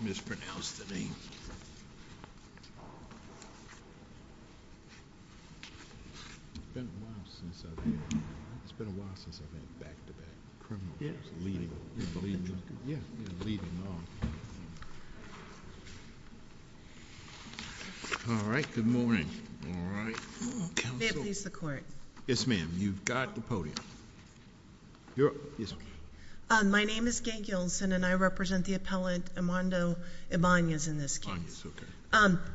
mispronounced the name. It's been a while since I've had back to back. All right. Good morning. Please the court. Yes, ma'am. You've got the podium. My name is Gay Gilson, and I represent the appellate Armando Ibanez in this case.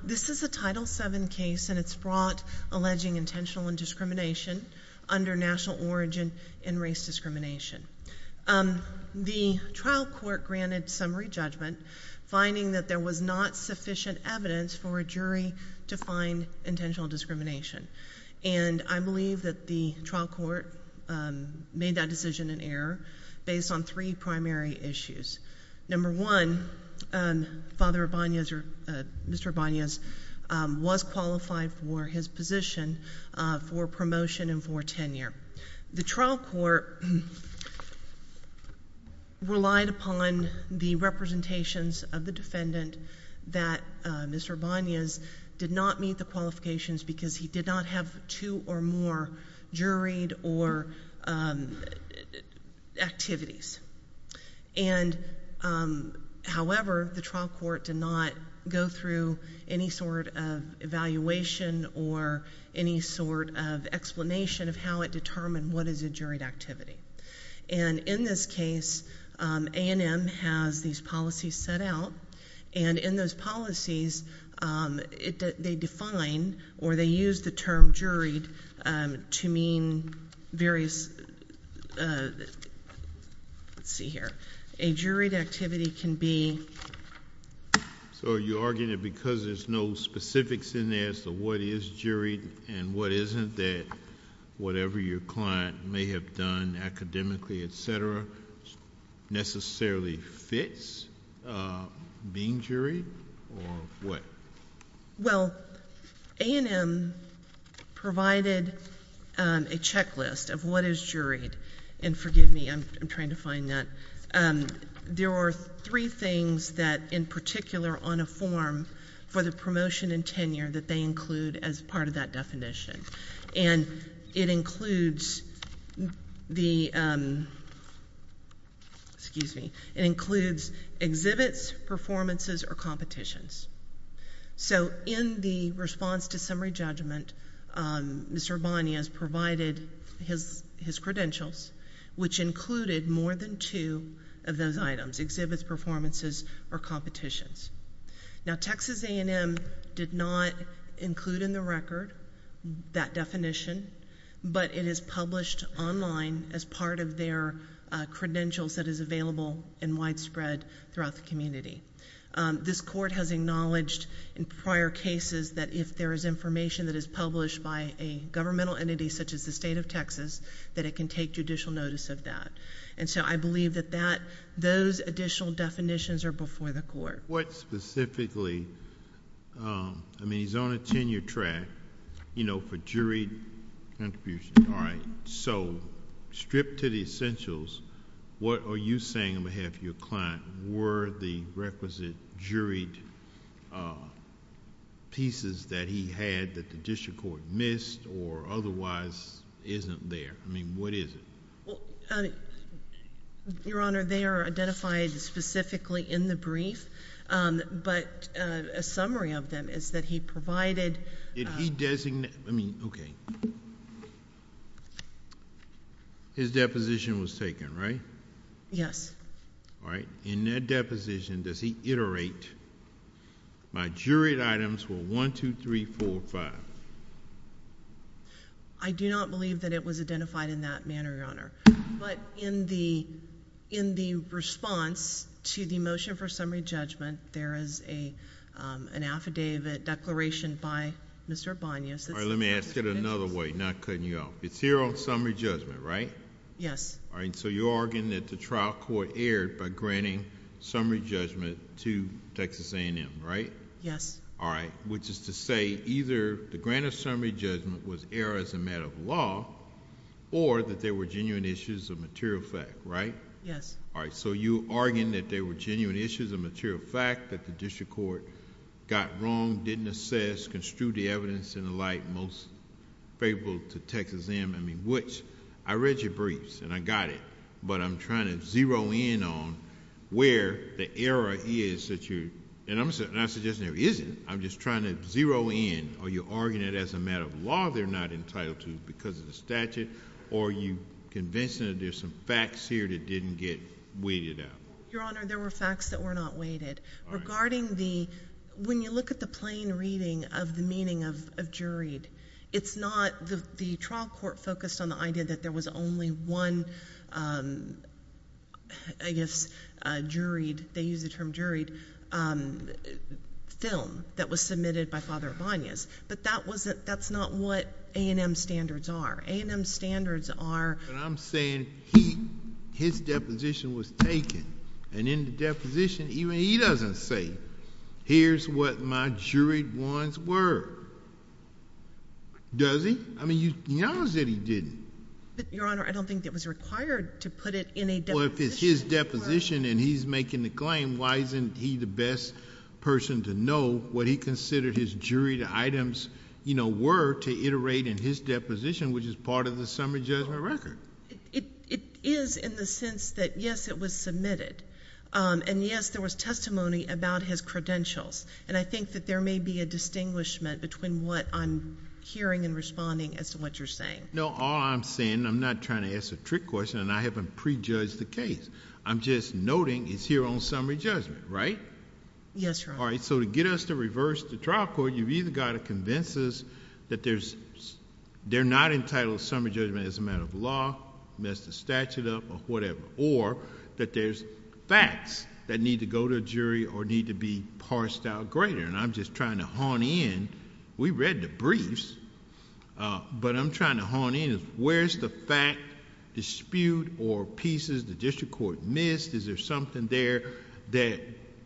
This is a Title VII case, and it's brought alleging intentional indiscrimination under national origin and race discrimination. The trial court granted summary judgment, finding that there was not sufficient evidence for a jury to find intentional discrimination. And I believe that the trial court made that decision in error based on three primary issues. Number one, Mr. Ibanez was qualified for his position for promotion and for tenure. The trial court relied upon the representations of the defendant that Mr. Ibanez did not meet the qualifications because he did not have two or more juried or activities. And however, the trial court did not go through any sort of evaluation or any sort of explanation of how it determined what is a juried activity. And in this case, A&M has these policies set out. And in those policies, they define or they use the term juried to mean various... Let's see here. A juried activity can be... So you're arguing that because there's no specifics in there as to what is juried and what isn't, that whatever your client may have done academically, et cetera, necessarily fits? Is being juried or what? Well, A&M provided a checklist of what is juried. And forgive me, I'm trying to find that. There are three things that, in particular on a form for the promotion and tenure, that they include as part of that definition. And it includes exhibits, performances, or competitions. So in the response to summary judgment, Mr. Ibanez provided his credentials, which included more than two of those items, exhibits, performances, or competitions. Now, Texas A&M did not include in the record that definition, but it is published online as part of their credentials that is available and widespread throughout the community. This court has acknowledged in prior cases that if there is information that is published by a governmental entity, such as the state of Texas, that it can take judicial notice of that. And so I believe that those additional definitions are before the court. What specifically... I mean, he's on a tenure track, you know, for juried contributions. So stripped to the essentials, what are you saying on behalf of your client were the requisite juried pieces that he had that the district court missed or otherwise isn't there? I mean, what is it? Well, Your Honor, they are identified specifically in the brief, but a summary of them is that he provided... Did he designate... I mean, okay. His deposition was taken, right? Yes. All right. In that deposition, does he iterate my juried items were one, two, three, four, five? I do not believe that it was identified in that manner, Your Honor. But in the response to the motion for summary judgment, there is an affidavit declaration by Mr. Banyas. All right. Let me ask it another way, not cutting you off. It's here on summary judgment, right? Yes. All right. So you're arguing that the trial court erred by granting summary judgment to Texas A&M, right? Yes. All right. Which is to say either the grant of summary judgment was erred as a matter of law or that there were genuine issues of material fact, right? Yes. All right. So you're arguing that there were genuine issues of material fact, that the district court got wrong, didn't assess, construed the evidence and the like most favorable to Texas A&M, I mean, which... I read your briefs and I got it, but I'm trying to zero in on where the error is that you're... and I'm not suggesting there isn't. I'm just trying to zero in or you're arguing that as a matter of law, they're not entitled to because of the statute or are you convinced that there's some facts here that didn't get weighted out? Your Honor, there were facts that were not weighted. Regarding the... when you look at the plain reading of the meaning of juried, it's not... the trial court focused on the idea that there was only one, I guess, juried, they used the term juried, film that was submitted by Father Ibanez. But that wasn't... that's not what A&M standards are. A&M standards are... But I'm saying he... his deposition was taken and in the deposition, even he doesn't say, here's what my juried ones were. Does he? I mean, you know that he didn't. But, Your Honor, I don't think it was required to put it in a deposition. Well, if it's his deposition and he's making the claim, why isn't he the best person to know what he considered his juried items, you know, were to iterate in his deposition, which is part of the summary judgment record? It is in the sense that, yes, it was submitted. And, yes, there was testimony about his credentials. And I think that there may be a distinguishment between what I'm hearing and responding as to what you're saying. No, all I'm saying, I'm not trying to ask a trick question and I haven't prejudged the case. I'm just noting it's here on summary judgment, right? Yes, Your Honor. All right, so to get us to reverse the trial court, you've either got to convince us that they're not entitled to summary judgment as a matter of law, messed the statute up or whatever, or that there's facts that need to go to a jury or need to be parsed out greater. And I'm just trying to hone in. We read the briefs, but I'm trying to hone in. Where's the fact, dispute or pieces the district court missed? Is there something there that,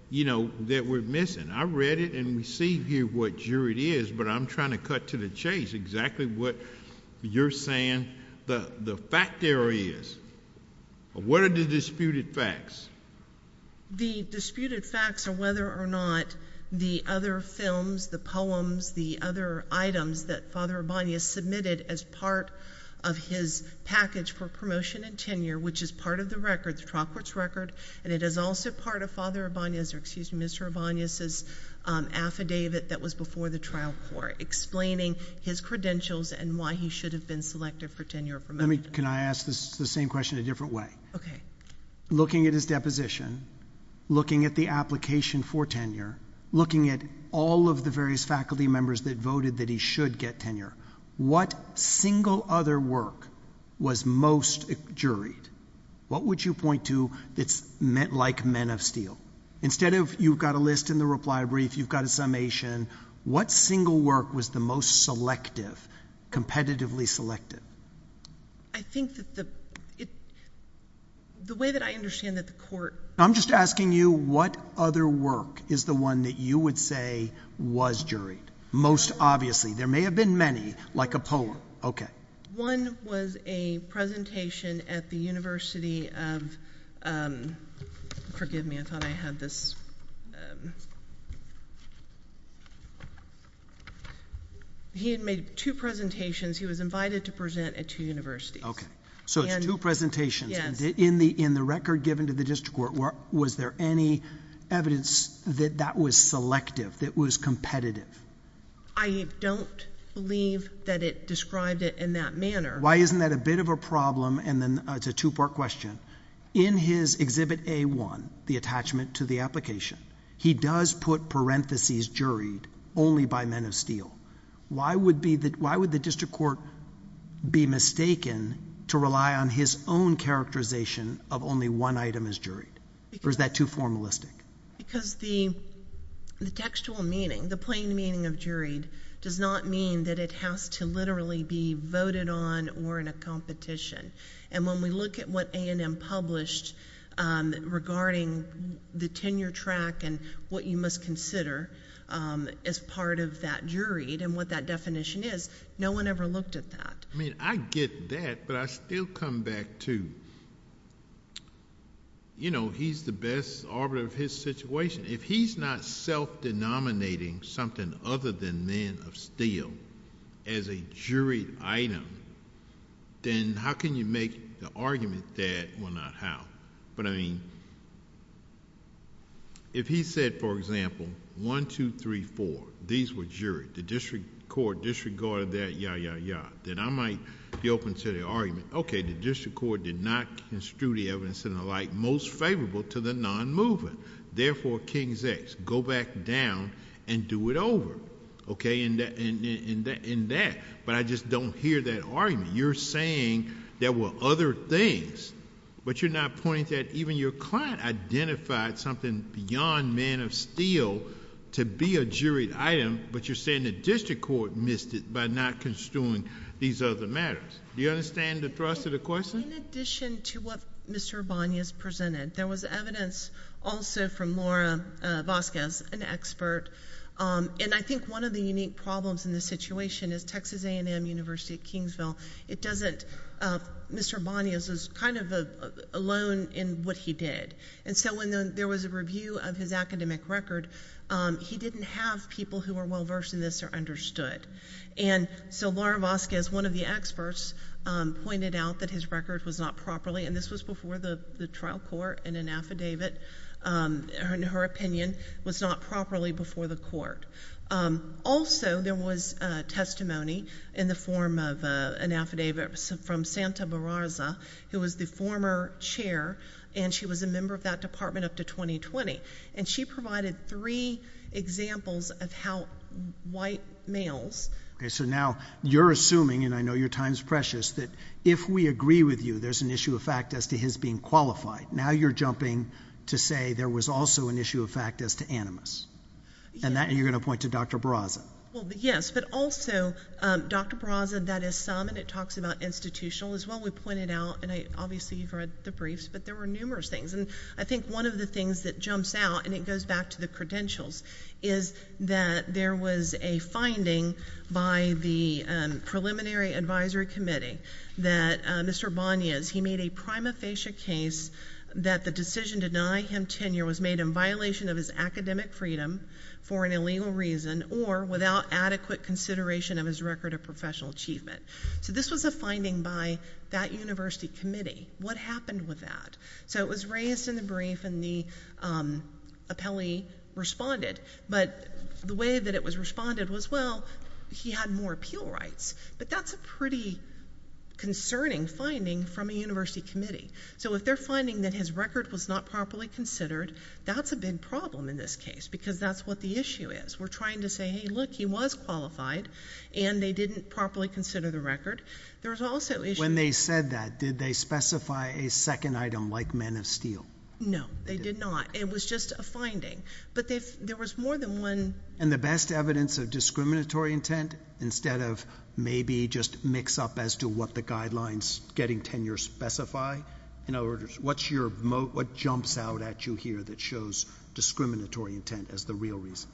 you know, that we're missing? I read it and we see here what jury it is, but I'm trying to cut to the chase exactly what you're saying the fact there is. What are the disputed facts? The disputed facts are whether or not the other films, the poems, the other items that Father Abani has submitted as part of his package for promotion and tenure, which is part of the record, the trial court's record, and it is also part of Father Abani's or excuse me, Mr. Abani's affidavit that was before the trial court explaining his credentials and why he should have been selected for tenure. Let me, can I ask the same question a different way? Okay. Looking at his deposition, looking at the application for tenure, looking at all of the various faculty members that voted that he should get tenure, what single other work was most juried? What would you point to that's like men of steel? Instead of you've got a list in the reply brief, you've got a summation, what single work was the most selective, competitively selective? I think that the, the way that I understand that the court. I'm just asking you what other work is the one that you would say was juried? Most obviously. There may have been many, like a poll. Okay. One was a presentation at the University of, forgive me, I thought I had this. He had made two presentations. He was invited to present at two universities. Okay. So it's two presentations. Yes. And in the, in the record given to the district court, was there any evidence that that was selective, that was competitive? I don't believe that it described it in that manner. Why isn't that a bit of a problem? And then it's a two-part question. In his exhibit A1, the attachment to the application, he does put parentheses juried only by men of steel. Why would be the, why would the district court be mistaken to rely on his own characterization of only one item as juried? Or is that too formalistic? Because the, the textual meaning, the plain meaning of juried does not mean that it has to literally be voted on or in a competition. And when we look at what A&M published regarding the tenure track and what you must consider as part of that juried and what that definition is, no one ever looked at that. I mean, I get that, but I still come back to, you know, he's the best arbiter of his situation. If he's not self-denominating something other than men of steel as a juried item, then how can you make the argument that, well, not how, but I mean, if he said, for example, one, two, three, four, these were juried, the district court disregarded that, yeah, yeah, yeah, then I might be open to the argument. Okay. The district court did not construe the evidence and the like most favorable to the non-moving. Therefore, King's X, go back down and do it over. Okay. And that, but I just don't hear that argument. You're saying there were other things, but you're not pointing to that. Even your client identified something beyond men of steel to be a juried item, but you're saying the district court missed it by not construing these other matters. Do you understand the thrust of the question? In addition to what Mr. Bonias presented, there was evidence also from Laura Vasquez, an expert, and I think one of the unique problems in this situation is Texas A&M University at Kingsville, it doesn't, Mr. Bonias is kind of alone in what he did. And so when there was a review of his academic record, he didn't have people who were well-versed in this or understood. And so Laura Vasquez, one of the experts, um, pointed out that his record was not properly, and this was before the trial court and an affidavit, um, her opinion was not properly before the court. Um, also there was a testimony in the form of a, an affidavit from Santa Barraza, who was the former chair, and she was a member of that department up to 2020. And she provided three examples of how white males. Okay. So now you're assuming, and I know your time's precious, that if we agree with you, there's an issue of fact as to his being qualified. Now you're jumping to say there was also an issue of fact as to animus and that you're going to point to Dr. Barraza. Well, yes, but also, um, Dr. Barraza, that is some, and it talks about institutional as well. We pointed out, and I obviously you've read the briefs, but there were numerous things, and I think one of the things that jumps out, and it goes back to the credentials, is that there was a finding by the, um, preliminary advisory committee that, uh, Mr. Bonias, he made a prima facie case that the decision to deny him tenure was made in violation of his academic freedom for an illegal reason or without adequate consideration of his record of professional achievement. So this was a finding by that university committee. What happened with that? So it was raised in the brief and the, um, appellee responded, but the way that it was responded was, well, he had more appeal rights, but that's a pretty concerning finding from a university committee. So if they're finding that his record was not properly considered, that's a big problem in this case, because that's what the issue is. We're trying to say, hey, look, he was qualified and they didn't properly consider the record. There was also issues. When they said that, did they specify a second item like men of steel? No, they did not. It was just a finding, but there was more than one. And the best evidence of discriminatory intent, instead of maybe just mix up as to what the guidelines getting tenure specify, in other words, what's your motive, what jumps out at you here that shows discriminatory intent as the real reason?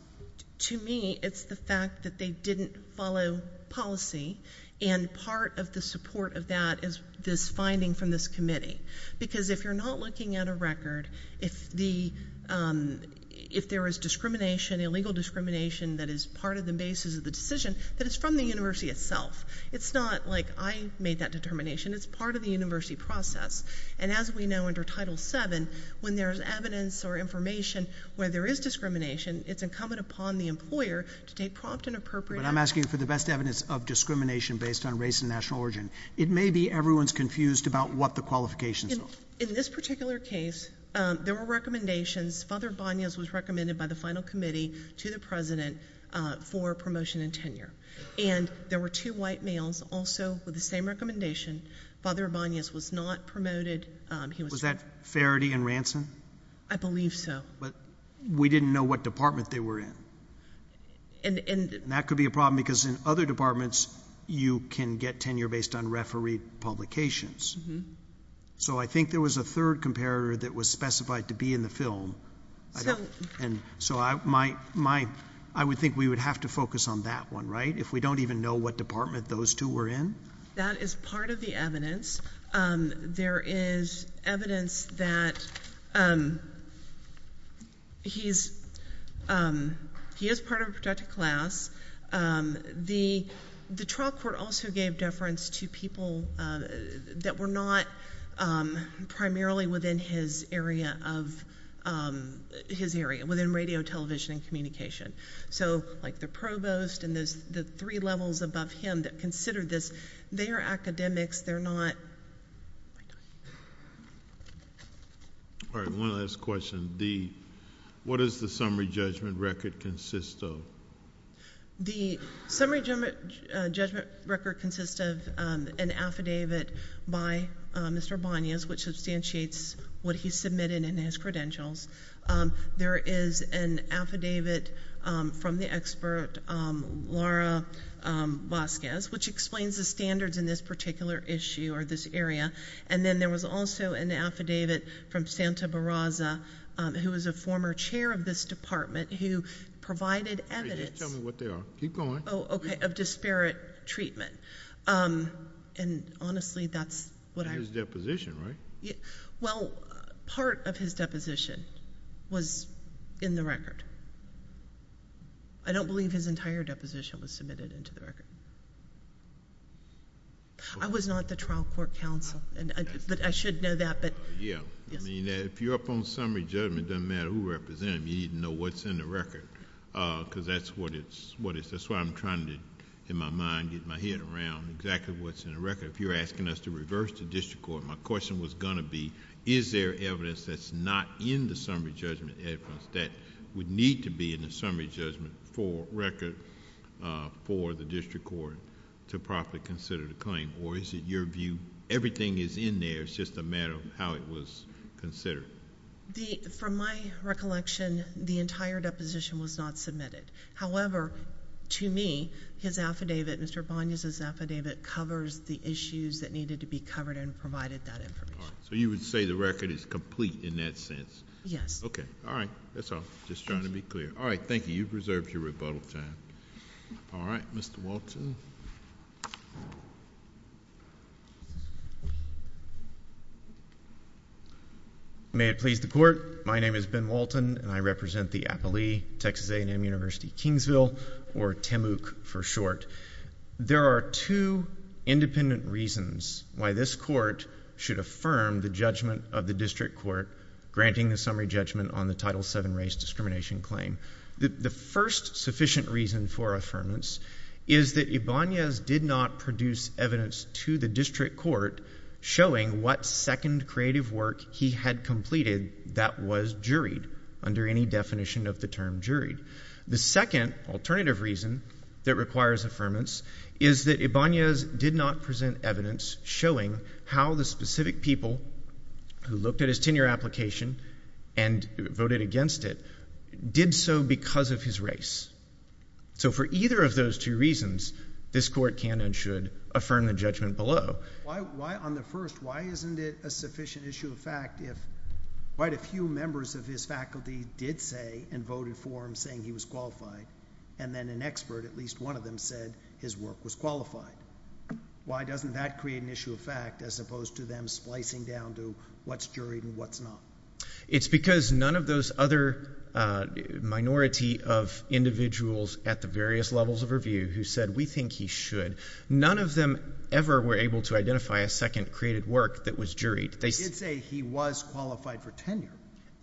To me, it's the fact that they didn't follow policy. And part of the support of that is this finding from this committee, because if you're not looking at a record, if the, um, if there is discrimination, illegal discrimination, that is part of the basis of the decision that is from the university itself. It's not like I made that determination. It's part of the university process. And as we know, under title seven, when there's evidence or information where there is discrimination, it's incumbent upon the employer to take prompt and I'm asking for the best evidence of discrimination based on race and national origin. It may be everyone's confused about what the qualifications are. In this particular case, um, there were recommendations. Father Vanius was recommended by the final committee to the president, uh, for promotion and tenure. And there were two white males also with the same recommendation. Father Vanius was not promoted. Um, he was that Farity and Ransom. I believe so, but we didn't know what department they were in. And, and that could be a problem because in other departments you can get tenure based on referee publications. So I think there was a third comparator that was specified to be in the film. So, and so I, my, my, I would think we would have to focus on that one, right? If we don't even know what department those two were in. That is part of the evidence. Um, there is evidence that, um, he's, um, he is part of a protected class. Um, the, the trial court also gave deference to people, uh, that were not, um, primarily within his area of, um, his area within radio, television, and communication. So like the provost and those, the three levels above him that considered this, they are academics. They're not. All right. One last question. The, what is the summary judgment record consists of? The summary judgment, uh, judgment record consists of, um, an affidavit by, uh, Mr. Vanius, which substantiates what he submitted in his credentials. Um, there is an affidavit, um, from the expert, um, Laura, um, Vasquez, which explains the standards in this particular issue or this area. And then there was also an affidavit from Santa Barraza, um, who was a former chair of this department who provided evidence of disparate treatment. Um, and honestly, that's what I was deposition, right? Well, part of his deposition was in the record. I don't believe his entire deposition was submitted into the record. I was not the trial court counsel, but I should know that, but... Yeah. I mean, if you're up on summary judgment, it doesn't matter who represented him, you need to know what's in the record, uh, because that's what it's, what it's, that's why I'm trying to, in my mind, get my head around exactly what's in the record. If you're asking us to reverse to district court, my question was going to be, is there evidence that's not in the summary judgment evidence that would need to be in the summary judgment for record, uh, for the district court to properly consider the claim, or is it your view, everything is in there, it's just a matter of how it was considered? The, from my recollection, the entire deposition was not submitted. However, to me, his affidavit, Mr. Bonyas' affidavit covers the issues that needed to be covered and provided that information. So you would say the record is complete in that sense? Yes. Okay. All right. That's all. Just trying to be clear. All right. Thank you. You've reserved your rebuttal time. All right. Mr. Walton. May it please the court. My name is Ben Walton and I represent the Appalee, Texas A&M University, Kingsville, or TAMUK for short. There are two independent reasons why this court should affirm the judgment of the district court, granting the summary judgment on the Title VII race discrimination claim. The first sufficient reason for affirmance is that Ibanez did not produce evidence to the district court showing what second creative work he had completed that was juried under any definition of the term juried. The second alternative reason that requires affirmance is that Ibanez did not present evidence showing how the specific people who looked at his tenure application and voted against it did so because of his race. So for either of those two reasons, this court can and should affirm the judgment below. Why on the first, why isn't it a sufficient issue of fact if quite a few members of his faculty did say and voted for him saying he was qualified and then an expert, at least one of them said his work was qualified? Why doesn't that create an issue of fact, as opposed to them splicing down to what's juried and what's not? It's because none of those other minority of individuals at the various levels of review who said, we think he should, none of them ever were able to identify a second creative work that was juried. They did say he was qualified for tenure.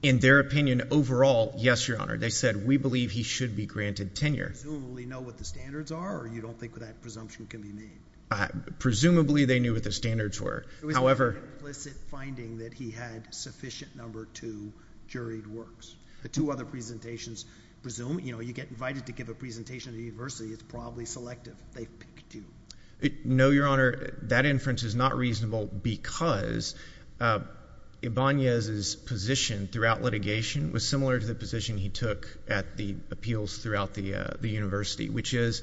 In their opinion overall, yes, Your Honor. They said, we believe he should be granted tenure. Do you presumably know what the standards are or you don't think that that presumption can be made? Presumably they knew what the standards were, however, implicit finding that he had sufficient number two juried works. The two other presentations presume, you know, you get invited to give a presentation to the university. It's probably selective. They picked you. No, Your Honor, that inference is not reasonable because, uh, Ibanez's position throughout litigation was similar to the position he took at the appeals throughout the, uh, the university, which is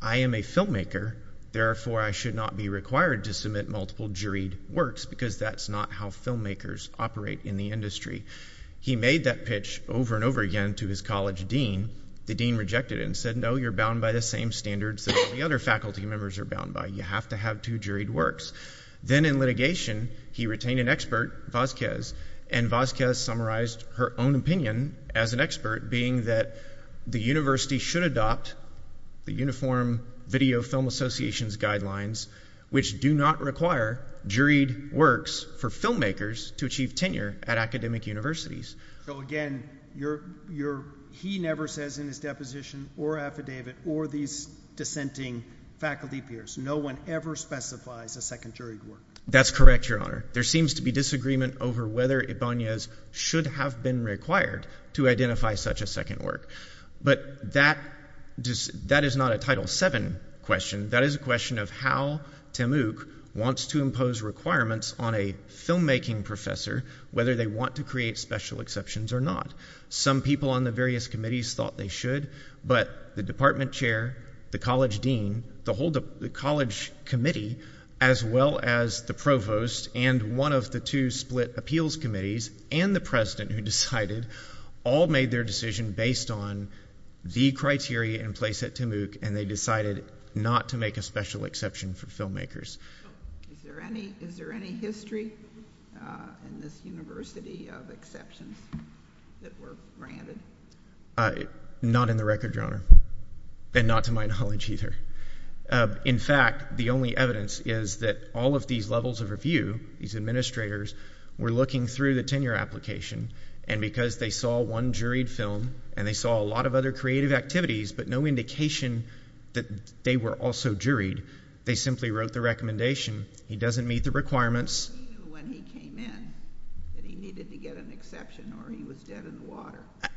I am a filmmaker. Therefore, I should not be required to submit multiple juried works because that's not how filmmakers operate in the industry. He made that pitch over and over again to his college dean. The dean rejected it and said, no, you're bound by the same standards that the other faculty members are bound by. You have to have two juried works. Then in litigation, he retained an expert, Vazquez, and Vazquez summarized her own opinion as an expert being that the university should adopt the uniform video film associations guidelines, which do not require juried works for filmmakers to achieve tenure at academic universities. So again, you're, you're, he never says in his deposition or affidavit or these dissenting faculty peers, no one ever specifies a second juried work. That's correct, Your Honor. There seems to be disagreement over whether Ibanez should have been required to identify such a second work. But that does, that is not a title seven question. That is a question of how Tim Uch wants to impose requirements on a filmmaking professor, whether they want to create special exceptions or not. Some people on the various committees thought they should, but the department chair, the college dean, the whole, the college committee, as well as the provost and one of the two split appeals committees and the president who decided all made their decision based on the criteria in place at Tim Uch, and they decided not to make a special exception for filmmakers. Is there any, is there any history in this university of exceptions that were granted? Uh, not in the record, Your Honor, and not to my knowledge either. Uh, in fact, the only evidence is that all of these levels of review, these administrators were looking through the tenure application and because they saw one juried film and they saw a lot of other creative activities, but no indication that they were also juried. They simply wrote the recommendation. He doesn't meet the requirements.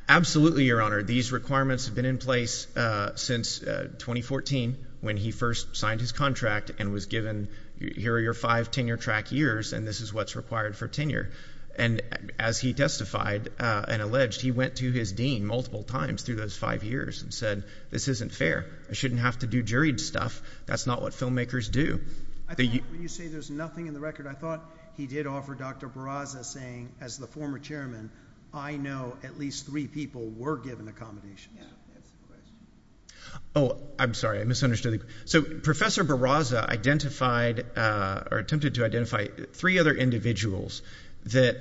Absolutely. Your Honor, these requirements have been in place, uh, since, uh, 2014 when he first signed his contract and was given, here are your five tenure track years. And this is what's required for tenure. And as he testified, uh, and alleged, he went to his dean multiple times through those five years and said, this isn't fair. I shouldn't have to do juried stuff. That's not what filmmakers do. I thought when you say there's nothing in the record, I thought he did offer Dr. Barraza saying as the former chairman, I know at least three people were given accommodations. Oh, I'm sorry. I misunderstood. So Professor Barraza identified, uh, or attempted to identify three other individuals that,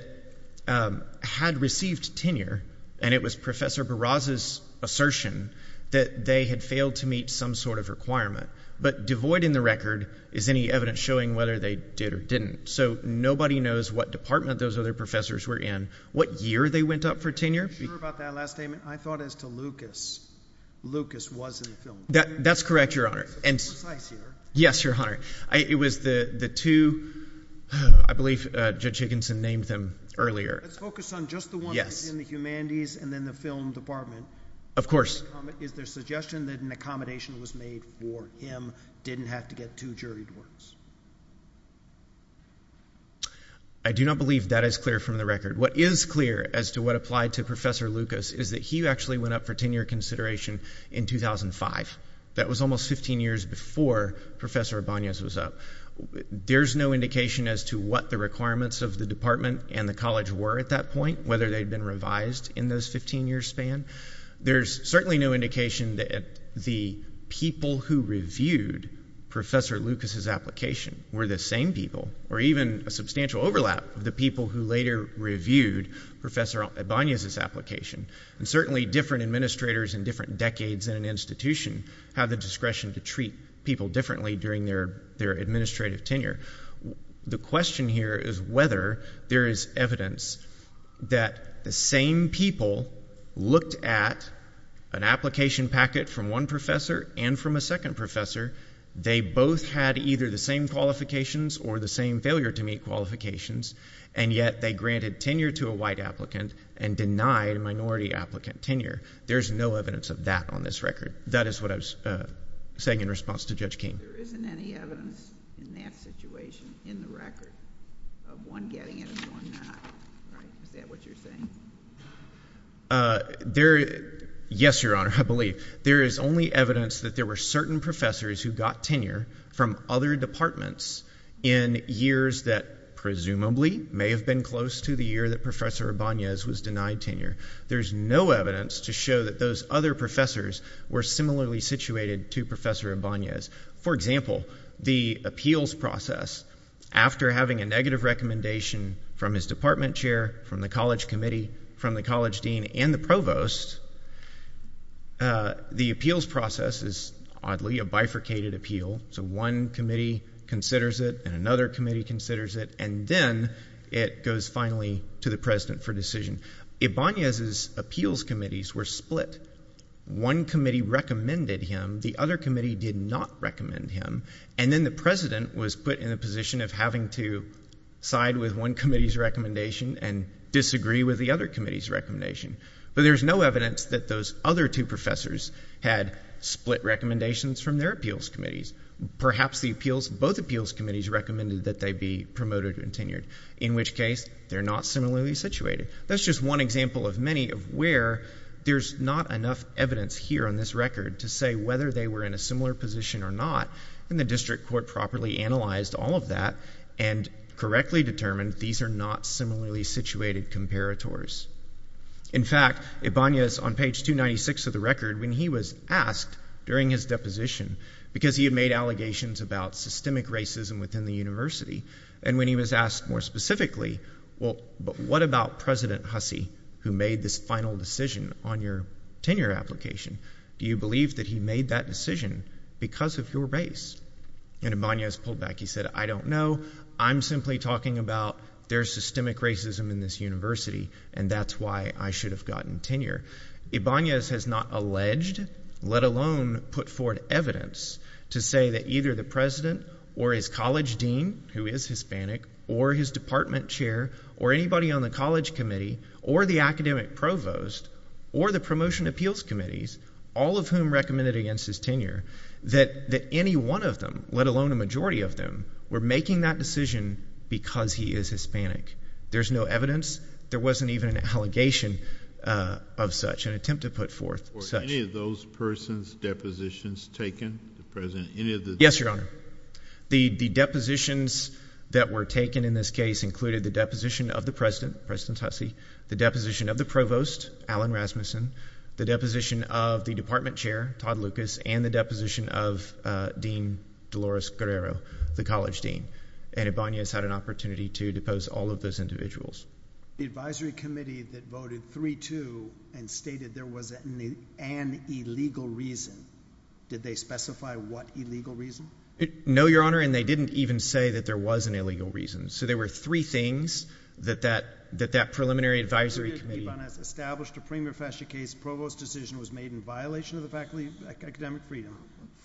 um, had received tenure. And it was Professor Barraza's assertion that they had failed to meet some sort of requirement, but devoid in the record is any evidence showing whether they did or didn't. So nobody knows what department those other professors were in, what year they went up for tenure. I thought as to Lucas, Lucas was in the film. That that's correct. Your honor. Yes, your honor. I, it was the, the two, I believe, uh, judge Higginson named them earlier. Let's focus on just the one in the humanities and then the film department. Of course. Is there a suggestion that an accommodation was made for him? Didn't have to get two juried words. I do not believe that is clear from the record. What is clear as to what applied to Professor Lucas is that he actually went up for tenure consideration in 2005. That was almost 15 years before Professor Abana's was up. There's no indication as to what the requirements of the department and the college were at that point, whether they'd been revised in those 15 years span. There's certainly no indication that the people who reviewed Professor Lucas's application were the same people, or even a substantial overlap of the people who reviewed Professor Abana's his application and certainly different administrators in different decades in an institution have the discretion to treat people differently during their, their administrative tenure. The question here is whether there is evidence that the same people looked at an application packet from one professor and from a second professor. They both had either the same qualifications or the same failure to meet qualifications, and yet they granted tenure to a white applicant and denied a minority applicant tenure. There's no evidence of that on this record. That is what I was saying in response to Judge King. There isn't any evidence in that situation in the record of one getting it and one not, right? Is that what you're saying? Uh, there, yes, Your Honor, I believe. There is only evidence that there were certain professors who got tenure from other departments in years that presumably may have been close to the year that Professor Abana's was denied tenure. There's no evidence to show that those other professors were similarly situated to Professor Abana's. For example, the appeals process after having a negative recommendation from his department chair, from the college committee, from the college dean and the provost, uh, the appeals process is oddly a bifurcated appeal. So one committee considers it and another committee considers it. And then it goes finally to the president for decision. Abana's appeals committees were split. One committee recommended him. The other committee did not recommend him. And then the president was put in a position of having to side with one committee's recommendation and disagree with the other committee's recommendation. But there's no evidence that those other two professors had split recommendations from their appeals committees. Perhaps the appeals, both appeals committees recommended that they be promoted and tenured, in which case they're not similarly situated. That's just one example of many of where there's not enough evidence here on this record to say whether they were in a similar position or not. And the district court properly analyzed all of that and correctly determined these are not similarly situated comparators. In fact, Abana's on page 296 of the record when he was asked during his position, because he had made allegations about systemic racism within the university. And when he was asked more specifically, well, but what about President Hussey, who made this final decision on your tenure application? Do you believe that he made that decision because of your race? And Abana's pulled back. He said, I don't know. I'm simply talking about their systemic racism in this university. And that's why I should have gotten tenure. Abana's has not alleged, let alone put forward evidence to say that either the president or his college dean, who is Hispanic, or his department chair or anybody on the college committee or the academic provost or the promotion appeals committees, all of whom recommended against his tenure, that any one of them, let alone a majority of them, were making that decision because he is Hispanic. There's no evidence. There wasn't even an allegation of such an attempt to put forth. Were any of those person's depositions taken, the president, any of the? Yes, your honor. The depositions that were taken in this case included the deposition of the president, President Hussey, the deposition of the provost, Alan Rasmussen, the deposition of the department chair, Todd Lucas, and the deposition of Dean Dolores Guerrero, the college dean. And Abana's had an opportunity to depose all of those individuals. The advisory committee that voted 3-2 and stated there was an illegal reason. Did they specify what illegal reason? No, your honor. And they didn't even say that there was an illegal reason. So there were three things that that, that that preliminary advisory committee. Abana's established a premier fashion case, provost decision was made in violation of the faculty academic freedom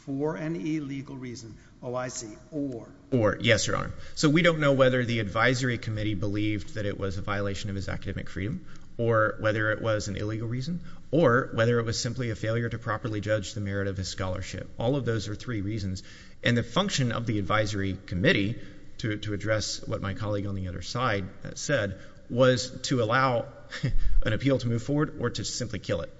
for an illegal reason. Oh, I see. Or. Or. Yes, your honor. So we don't know whether the advisory committee believed that it was a violation of his academic freedom or whether it was an illegal reason or whether it was simply a failure to properly judge the merit of his scholarship. All of those are three reasons. And the function of the advisory committee to, to address what my colleague on the other side said was to allow an appeal to move forward or to simply kill it.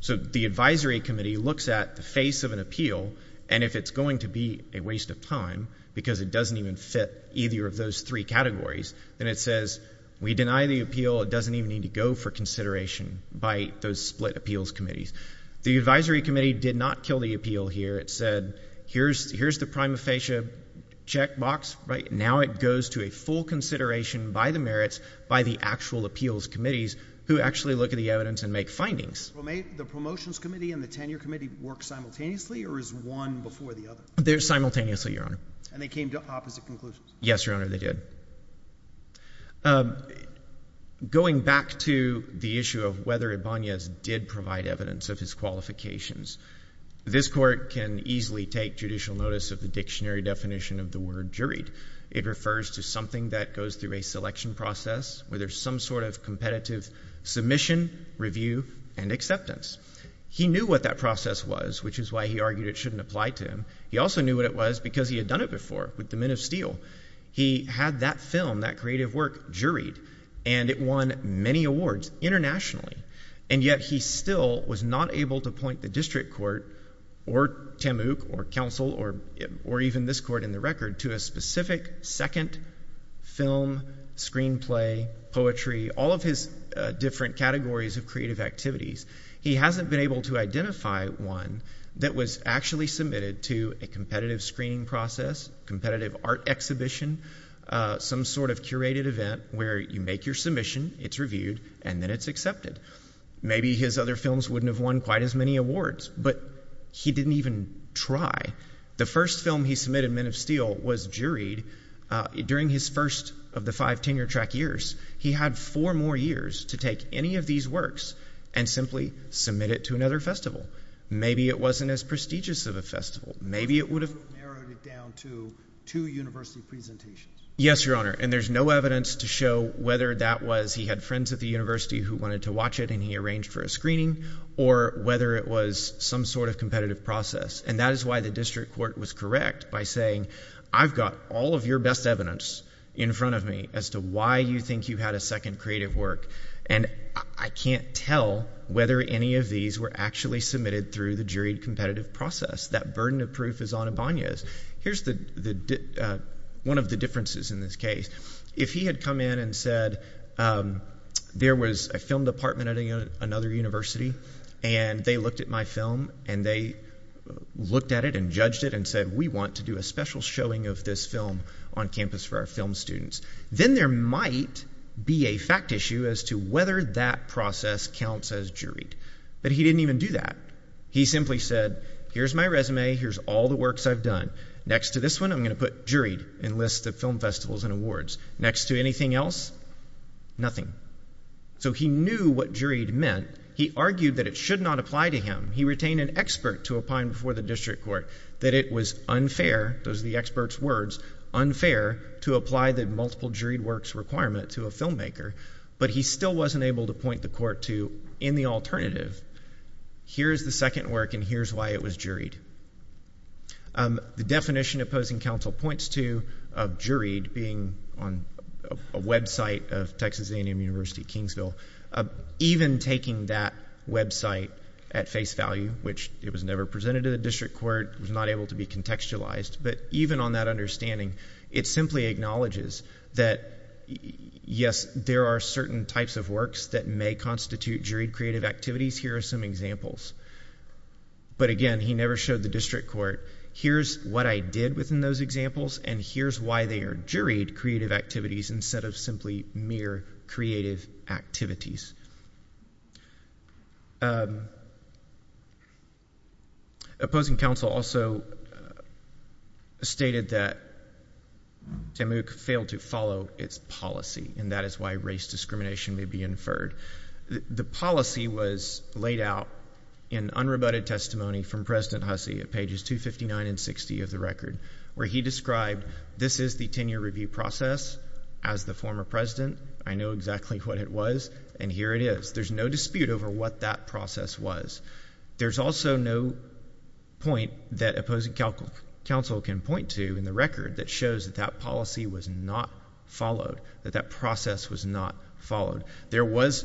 So the advisory committee looks at the face of an appeal and if it's going to be a waste of time because it doesn't even fit either of those three categories, then it says we deny the appeal. It doesn't even need to go for consideration by those split appeals committees. The advisory committee did not kill the appeal here. It said, here's, here's the prima facie check box, right? Now it goes to a full consideration by the merits, by the actual appeals committees who actually look at the evidence and make findings. Well, may the promotions committee and the tenure committee work simultaneously or is one before the other? They're simultaneously, Your Honor. And they came to opposite conclusions. Yes, Your Honor. They did. Um, going back to the issue of whether Ibanez did provide evidence of his qualifications. This court can easily take judicial notice of the dictionary definition of the word juried. It refers to something that goes through a selection process where there's some sort of competitive submission review and acceptance. He knew what that process was, which is why he argued it shouldn't apply to him. He also knew what it was because he had done it before with the men of steel. He had that film, that creative work juried and it won many awards internationally. And yet he still was not able to point the district court or TAMUK or counsel or, or even this court in the record to a specific second film, screenplay, poetry, all of his different categories of creative activities. He hasn't been able to identify one that was actually submitted to a competitive screening process, competitive art exhibition, some sort of curated event where you make your submission, it's reviewed, and then it's accepted. Maybe his other films wouldn't have won quite as many awards, but he didn't even try. The first film he submitted, men of steel, was juried during his first of the five tenure track years. He had four more years to take any of these works and simply submit it to another festival. Maybe it wasn't as prestigious of a festival. Maybe it would have narrowed it down to two university presentations. Yes, Your Honor. And there's no evidence to show whether that was, he had friends at the university who wanted to watch it and he arranged for a screening or whether it was some sort of competitive process. And that is why the district court was correct by saying, I've got all of your best evidence in front of me as to why you think you had a second creative work. And I can't tell whether any of these were actually submitted through the juried competitive process. That burden of proof is on Ibanez. Here's one of the differences in this case. If he had come in and said, there was a film department at another university and they looked at my film and they looked at it and judged it and said, we want to do a special showing of this film on campus for our film students. Then there might be a fact issue as to whether that process counts as juried. But he didn't even do that. He simply said, here's my resume. Here's all the works I've done. Next to this one, I'm going to put juried and list the film festivals and awards. Next to anything else, nothing. So he knew what juried meant. He argued that it should not apply to him. He retained an expert to apply before the district court that it was unfair. Those are the expert's words, unfair to apply the multiple juried works requirement to a filmmaker, but he still wasn't able to point the court to in the alternative, here's the second work and here's why it was juried. The definition opposing counsel points to of juried being on a website of Texas A&M University, Kingsville, even taking that website at face value, which it was never presented to the district court. It was not able to be contextualized, but even on that understanding, it simply acknowledges that yes, there are certain types of works that may constitute juried creative activities. Here are some examples, but again, he never showed the district court. Here's what I did within those examples and here's why they are juried creative activities instead of simply mere creative activities. Opposing counsel also stated that TAMUK failed to follow its policy and that is why race discrimination may be inferred. The policy was laid out in unrebutted testimony from president Hussey at pages 259 and 60 of the record, where he described, this is the tenure review process as the former president. I know exactly what it was and here it is. There's no dispute over what that process was. There's also no point that opposing counsel can point to in the record that shows that that policy was not followed, that that process was not followed. There was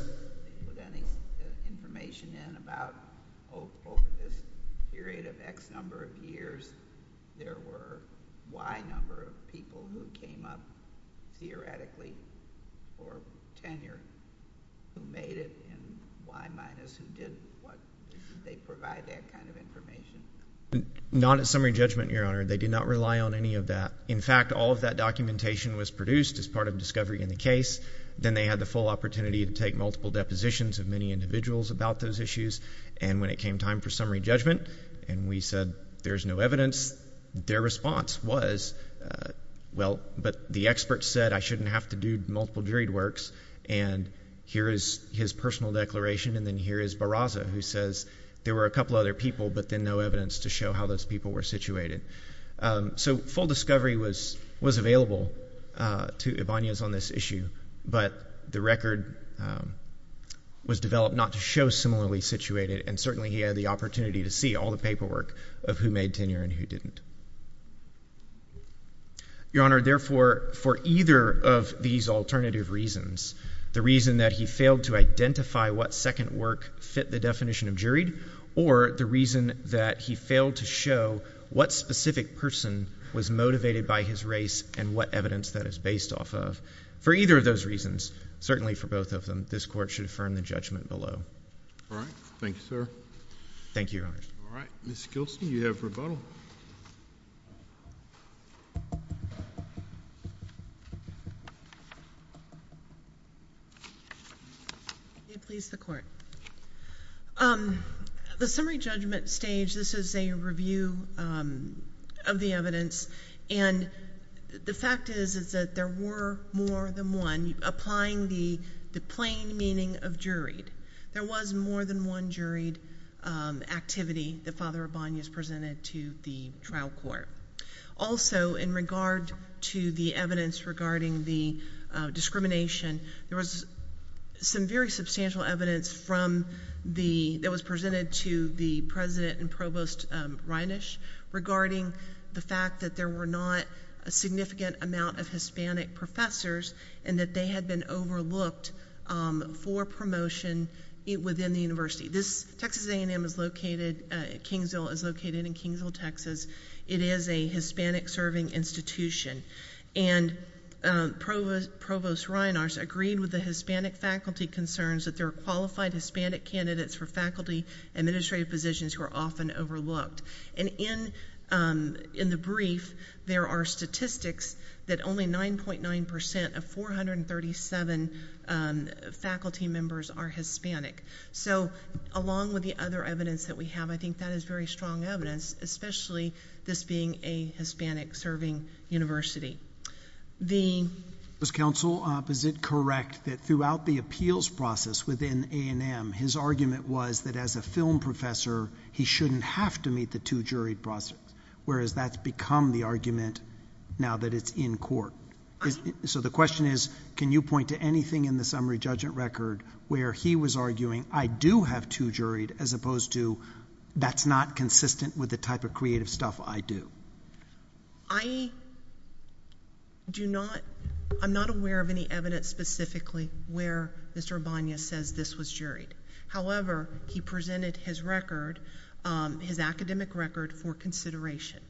not a summary judgment, your honor. They did not rely on any of that. In fact, all of that documentation was produced as part of discovery in the Then they had the full opportunity to take multiple depositions of many individuals about those issues. And when it came time for summary judgment and we said, there's no evidence, their response was, well, but the experts said I shouldn't have to do multiple juried works. And here is his personal declaration. And then here is Barraza, who says there were a couple other people, but then no evidence to show how those people were situated. Um, so full discovery was, was available, uh, to Ibanez on this issue, but the record, um, was developed not to show similarly situated. And certainly he had the opportunity to see all the paperwork of who made tenure and who didn't. Your honor, therefore, for either of these alternative reasons, the reason that he failed to identify what second work fit the definition of juried, or the reason that he failed to show what specific person was motivated by his race and what evidence that is based off of for either of those reasons, certainly for both of them, this court should affirm the judgment below. All right. Thank you, sir. Thank you. All right. Ms. Gilson, you have rebuttal. Please the court. Um, the summary judgment stage, this is a review, um, of the evidence. And the fact is, is that there were more than one applying the, the plain meaning of juried, there was more than one juried, um, activity that Father Ibanez presented to the trial court. Also in regard to the evidence regarding the, uh, discrimination, there was some very substantial evidence from the, that was presented to the president and provost, um, Reinesh regarding the fact that there were not a significant amount of Hispanic professors and that they had been overlooked, um, for promotion within the university. This Texas A&M is located, uh, Kingsville is located in Kingsville, Texas. It is a Hispanic serving institution. And, um, provost Reinesh agreed with the Hispanic faculty concerns that there are qualified Hispanic candidates for faculty administrative positions who are often overlooked. And in, um, in the brief, there are statistics that only 9.9% of 437, um, faculty members are Hispanic. So along with the other evidence that we have, I think that is very strong evidence, especially this being a Hispanic serving university. The- Was counsel opposite correct that throughout the appeals process within A&M, his argument was that as a film professor, he shouldn't have to meet the two juried process, whereas that's become the argument now that it's in court. So the question is, can you point to anything in the summary judgment record where he was arguing, I do have two juried, as opposed to that's not consistent with the type of creative stuff I do? I do not, I'm not aware of any evidence specifically where Mr. Abana says this was juried. However, he presented his record, um, his academic record for consideration.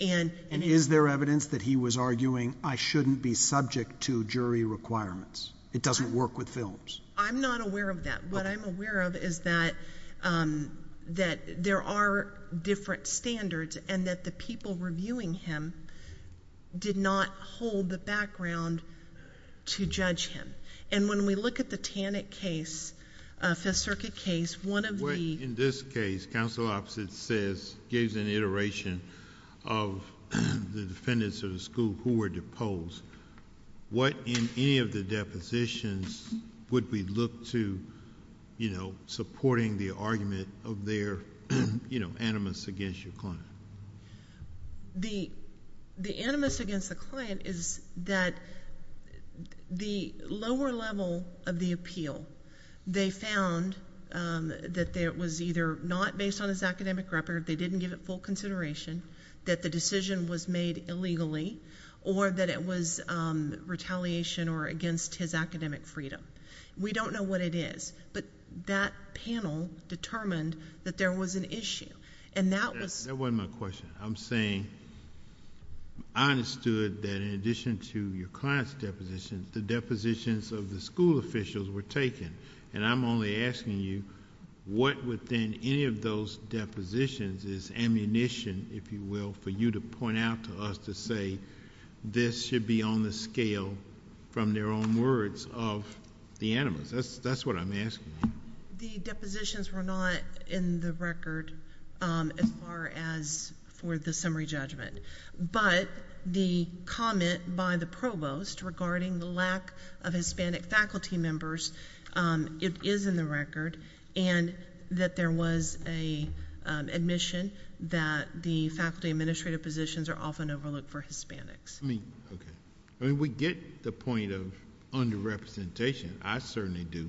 And- And is there evidence that he was arguing, I shouldn't be subject to jury requirements. It doesn't work with films. I'm not aware of that. What I'm aware of is that, um, that there are different standards and that the people reviewing him did not hold the background to judge him. And when we look at the Tannick case, uh, Fifth Circuit case, one of the- What in this case, counsel opposite says, gives an iteration of the defendants of the school who were deposed. What in any of the depositions would we look to, you know, supporting the argument of their, you know, animus against your client? The, the animus against the client is that the lower level of the appeal, they found, um, that there was either not based on his academic record, they didn't give it full consideration, that the decision was made illegally, or that it was, um, retaliation or against his academic freedom. We don't know what it is, but that panel determined that there was an issue. And that was- That wasn't my question. I'm saying, I understood that in addition to your client's deposition, the depositions of the school officials were taken, and I'm only asking you, what within any of those depositions is ammunition, if you will, for you to point out to us to say, this should be on the scale from their own words of the animus. That's, that's what I'm asking. The depositions were not in the record, um, as far as for the summary judgment, but the comment by the provost regarding the lack of Hispanic faculty members, um, it is in the record, and that there was a, um, admission that the faculty administrative positions are often overlooked for Hispanics. I mean, okay. I mean, we get the point of underrepresentation. I certainly do.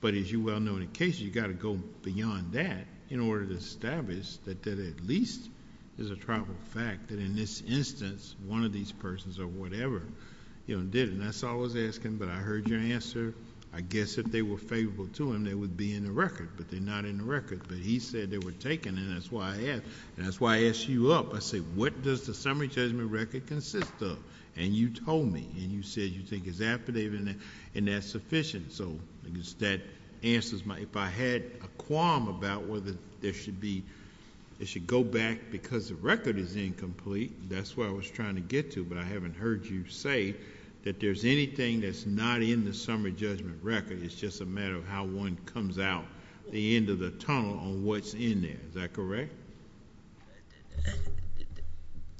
But as you well know, in a case, you got to go beyond that in order to establish that, that at least there's a tribal fact that in this instance, one of these persons or whatever, you know, did, and that's all I was asking, but I heard your answer, I guess if they were favorable to him, they would be in the record, but they're not in the record, but he said they were taken, and that's why I asked, and that's why I asked you up. I said, what does the summary judgment record consist of? And you told me, and you said you think it's affidavit and that's sufficient. So that answers my, if I had a qualm about whether there should be, it should go back because the record is incomplete. That's what I was trying to get to, but I haven't heard you say that there's anything that's not in the summary judgment record, it's just a matter of how one comes out the end of the tunnel on what's in there, is that correct?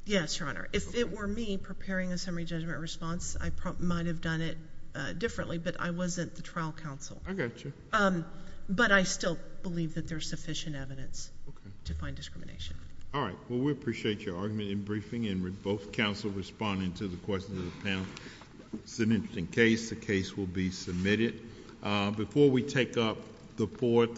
Yes, Your Honor. If it were me preparing a summary judgment response, I might have done it differently, but I wasn't the trial counsel, but I still believe that there's sufficient evidence to find discrimination. All right. Well, we appreciate your argument in briefing and with both counsel responding to the questions of the panel, it's an interesting case. The case will be submitted before we take up the fourth.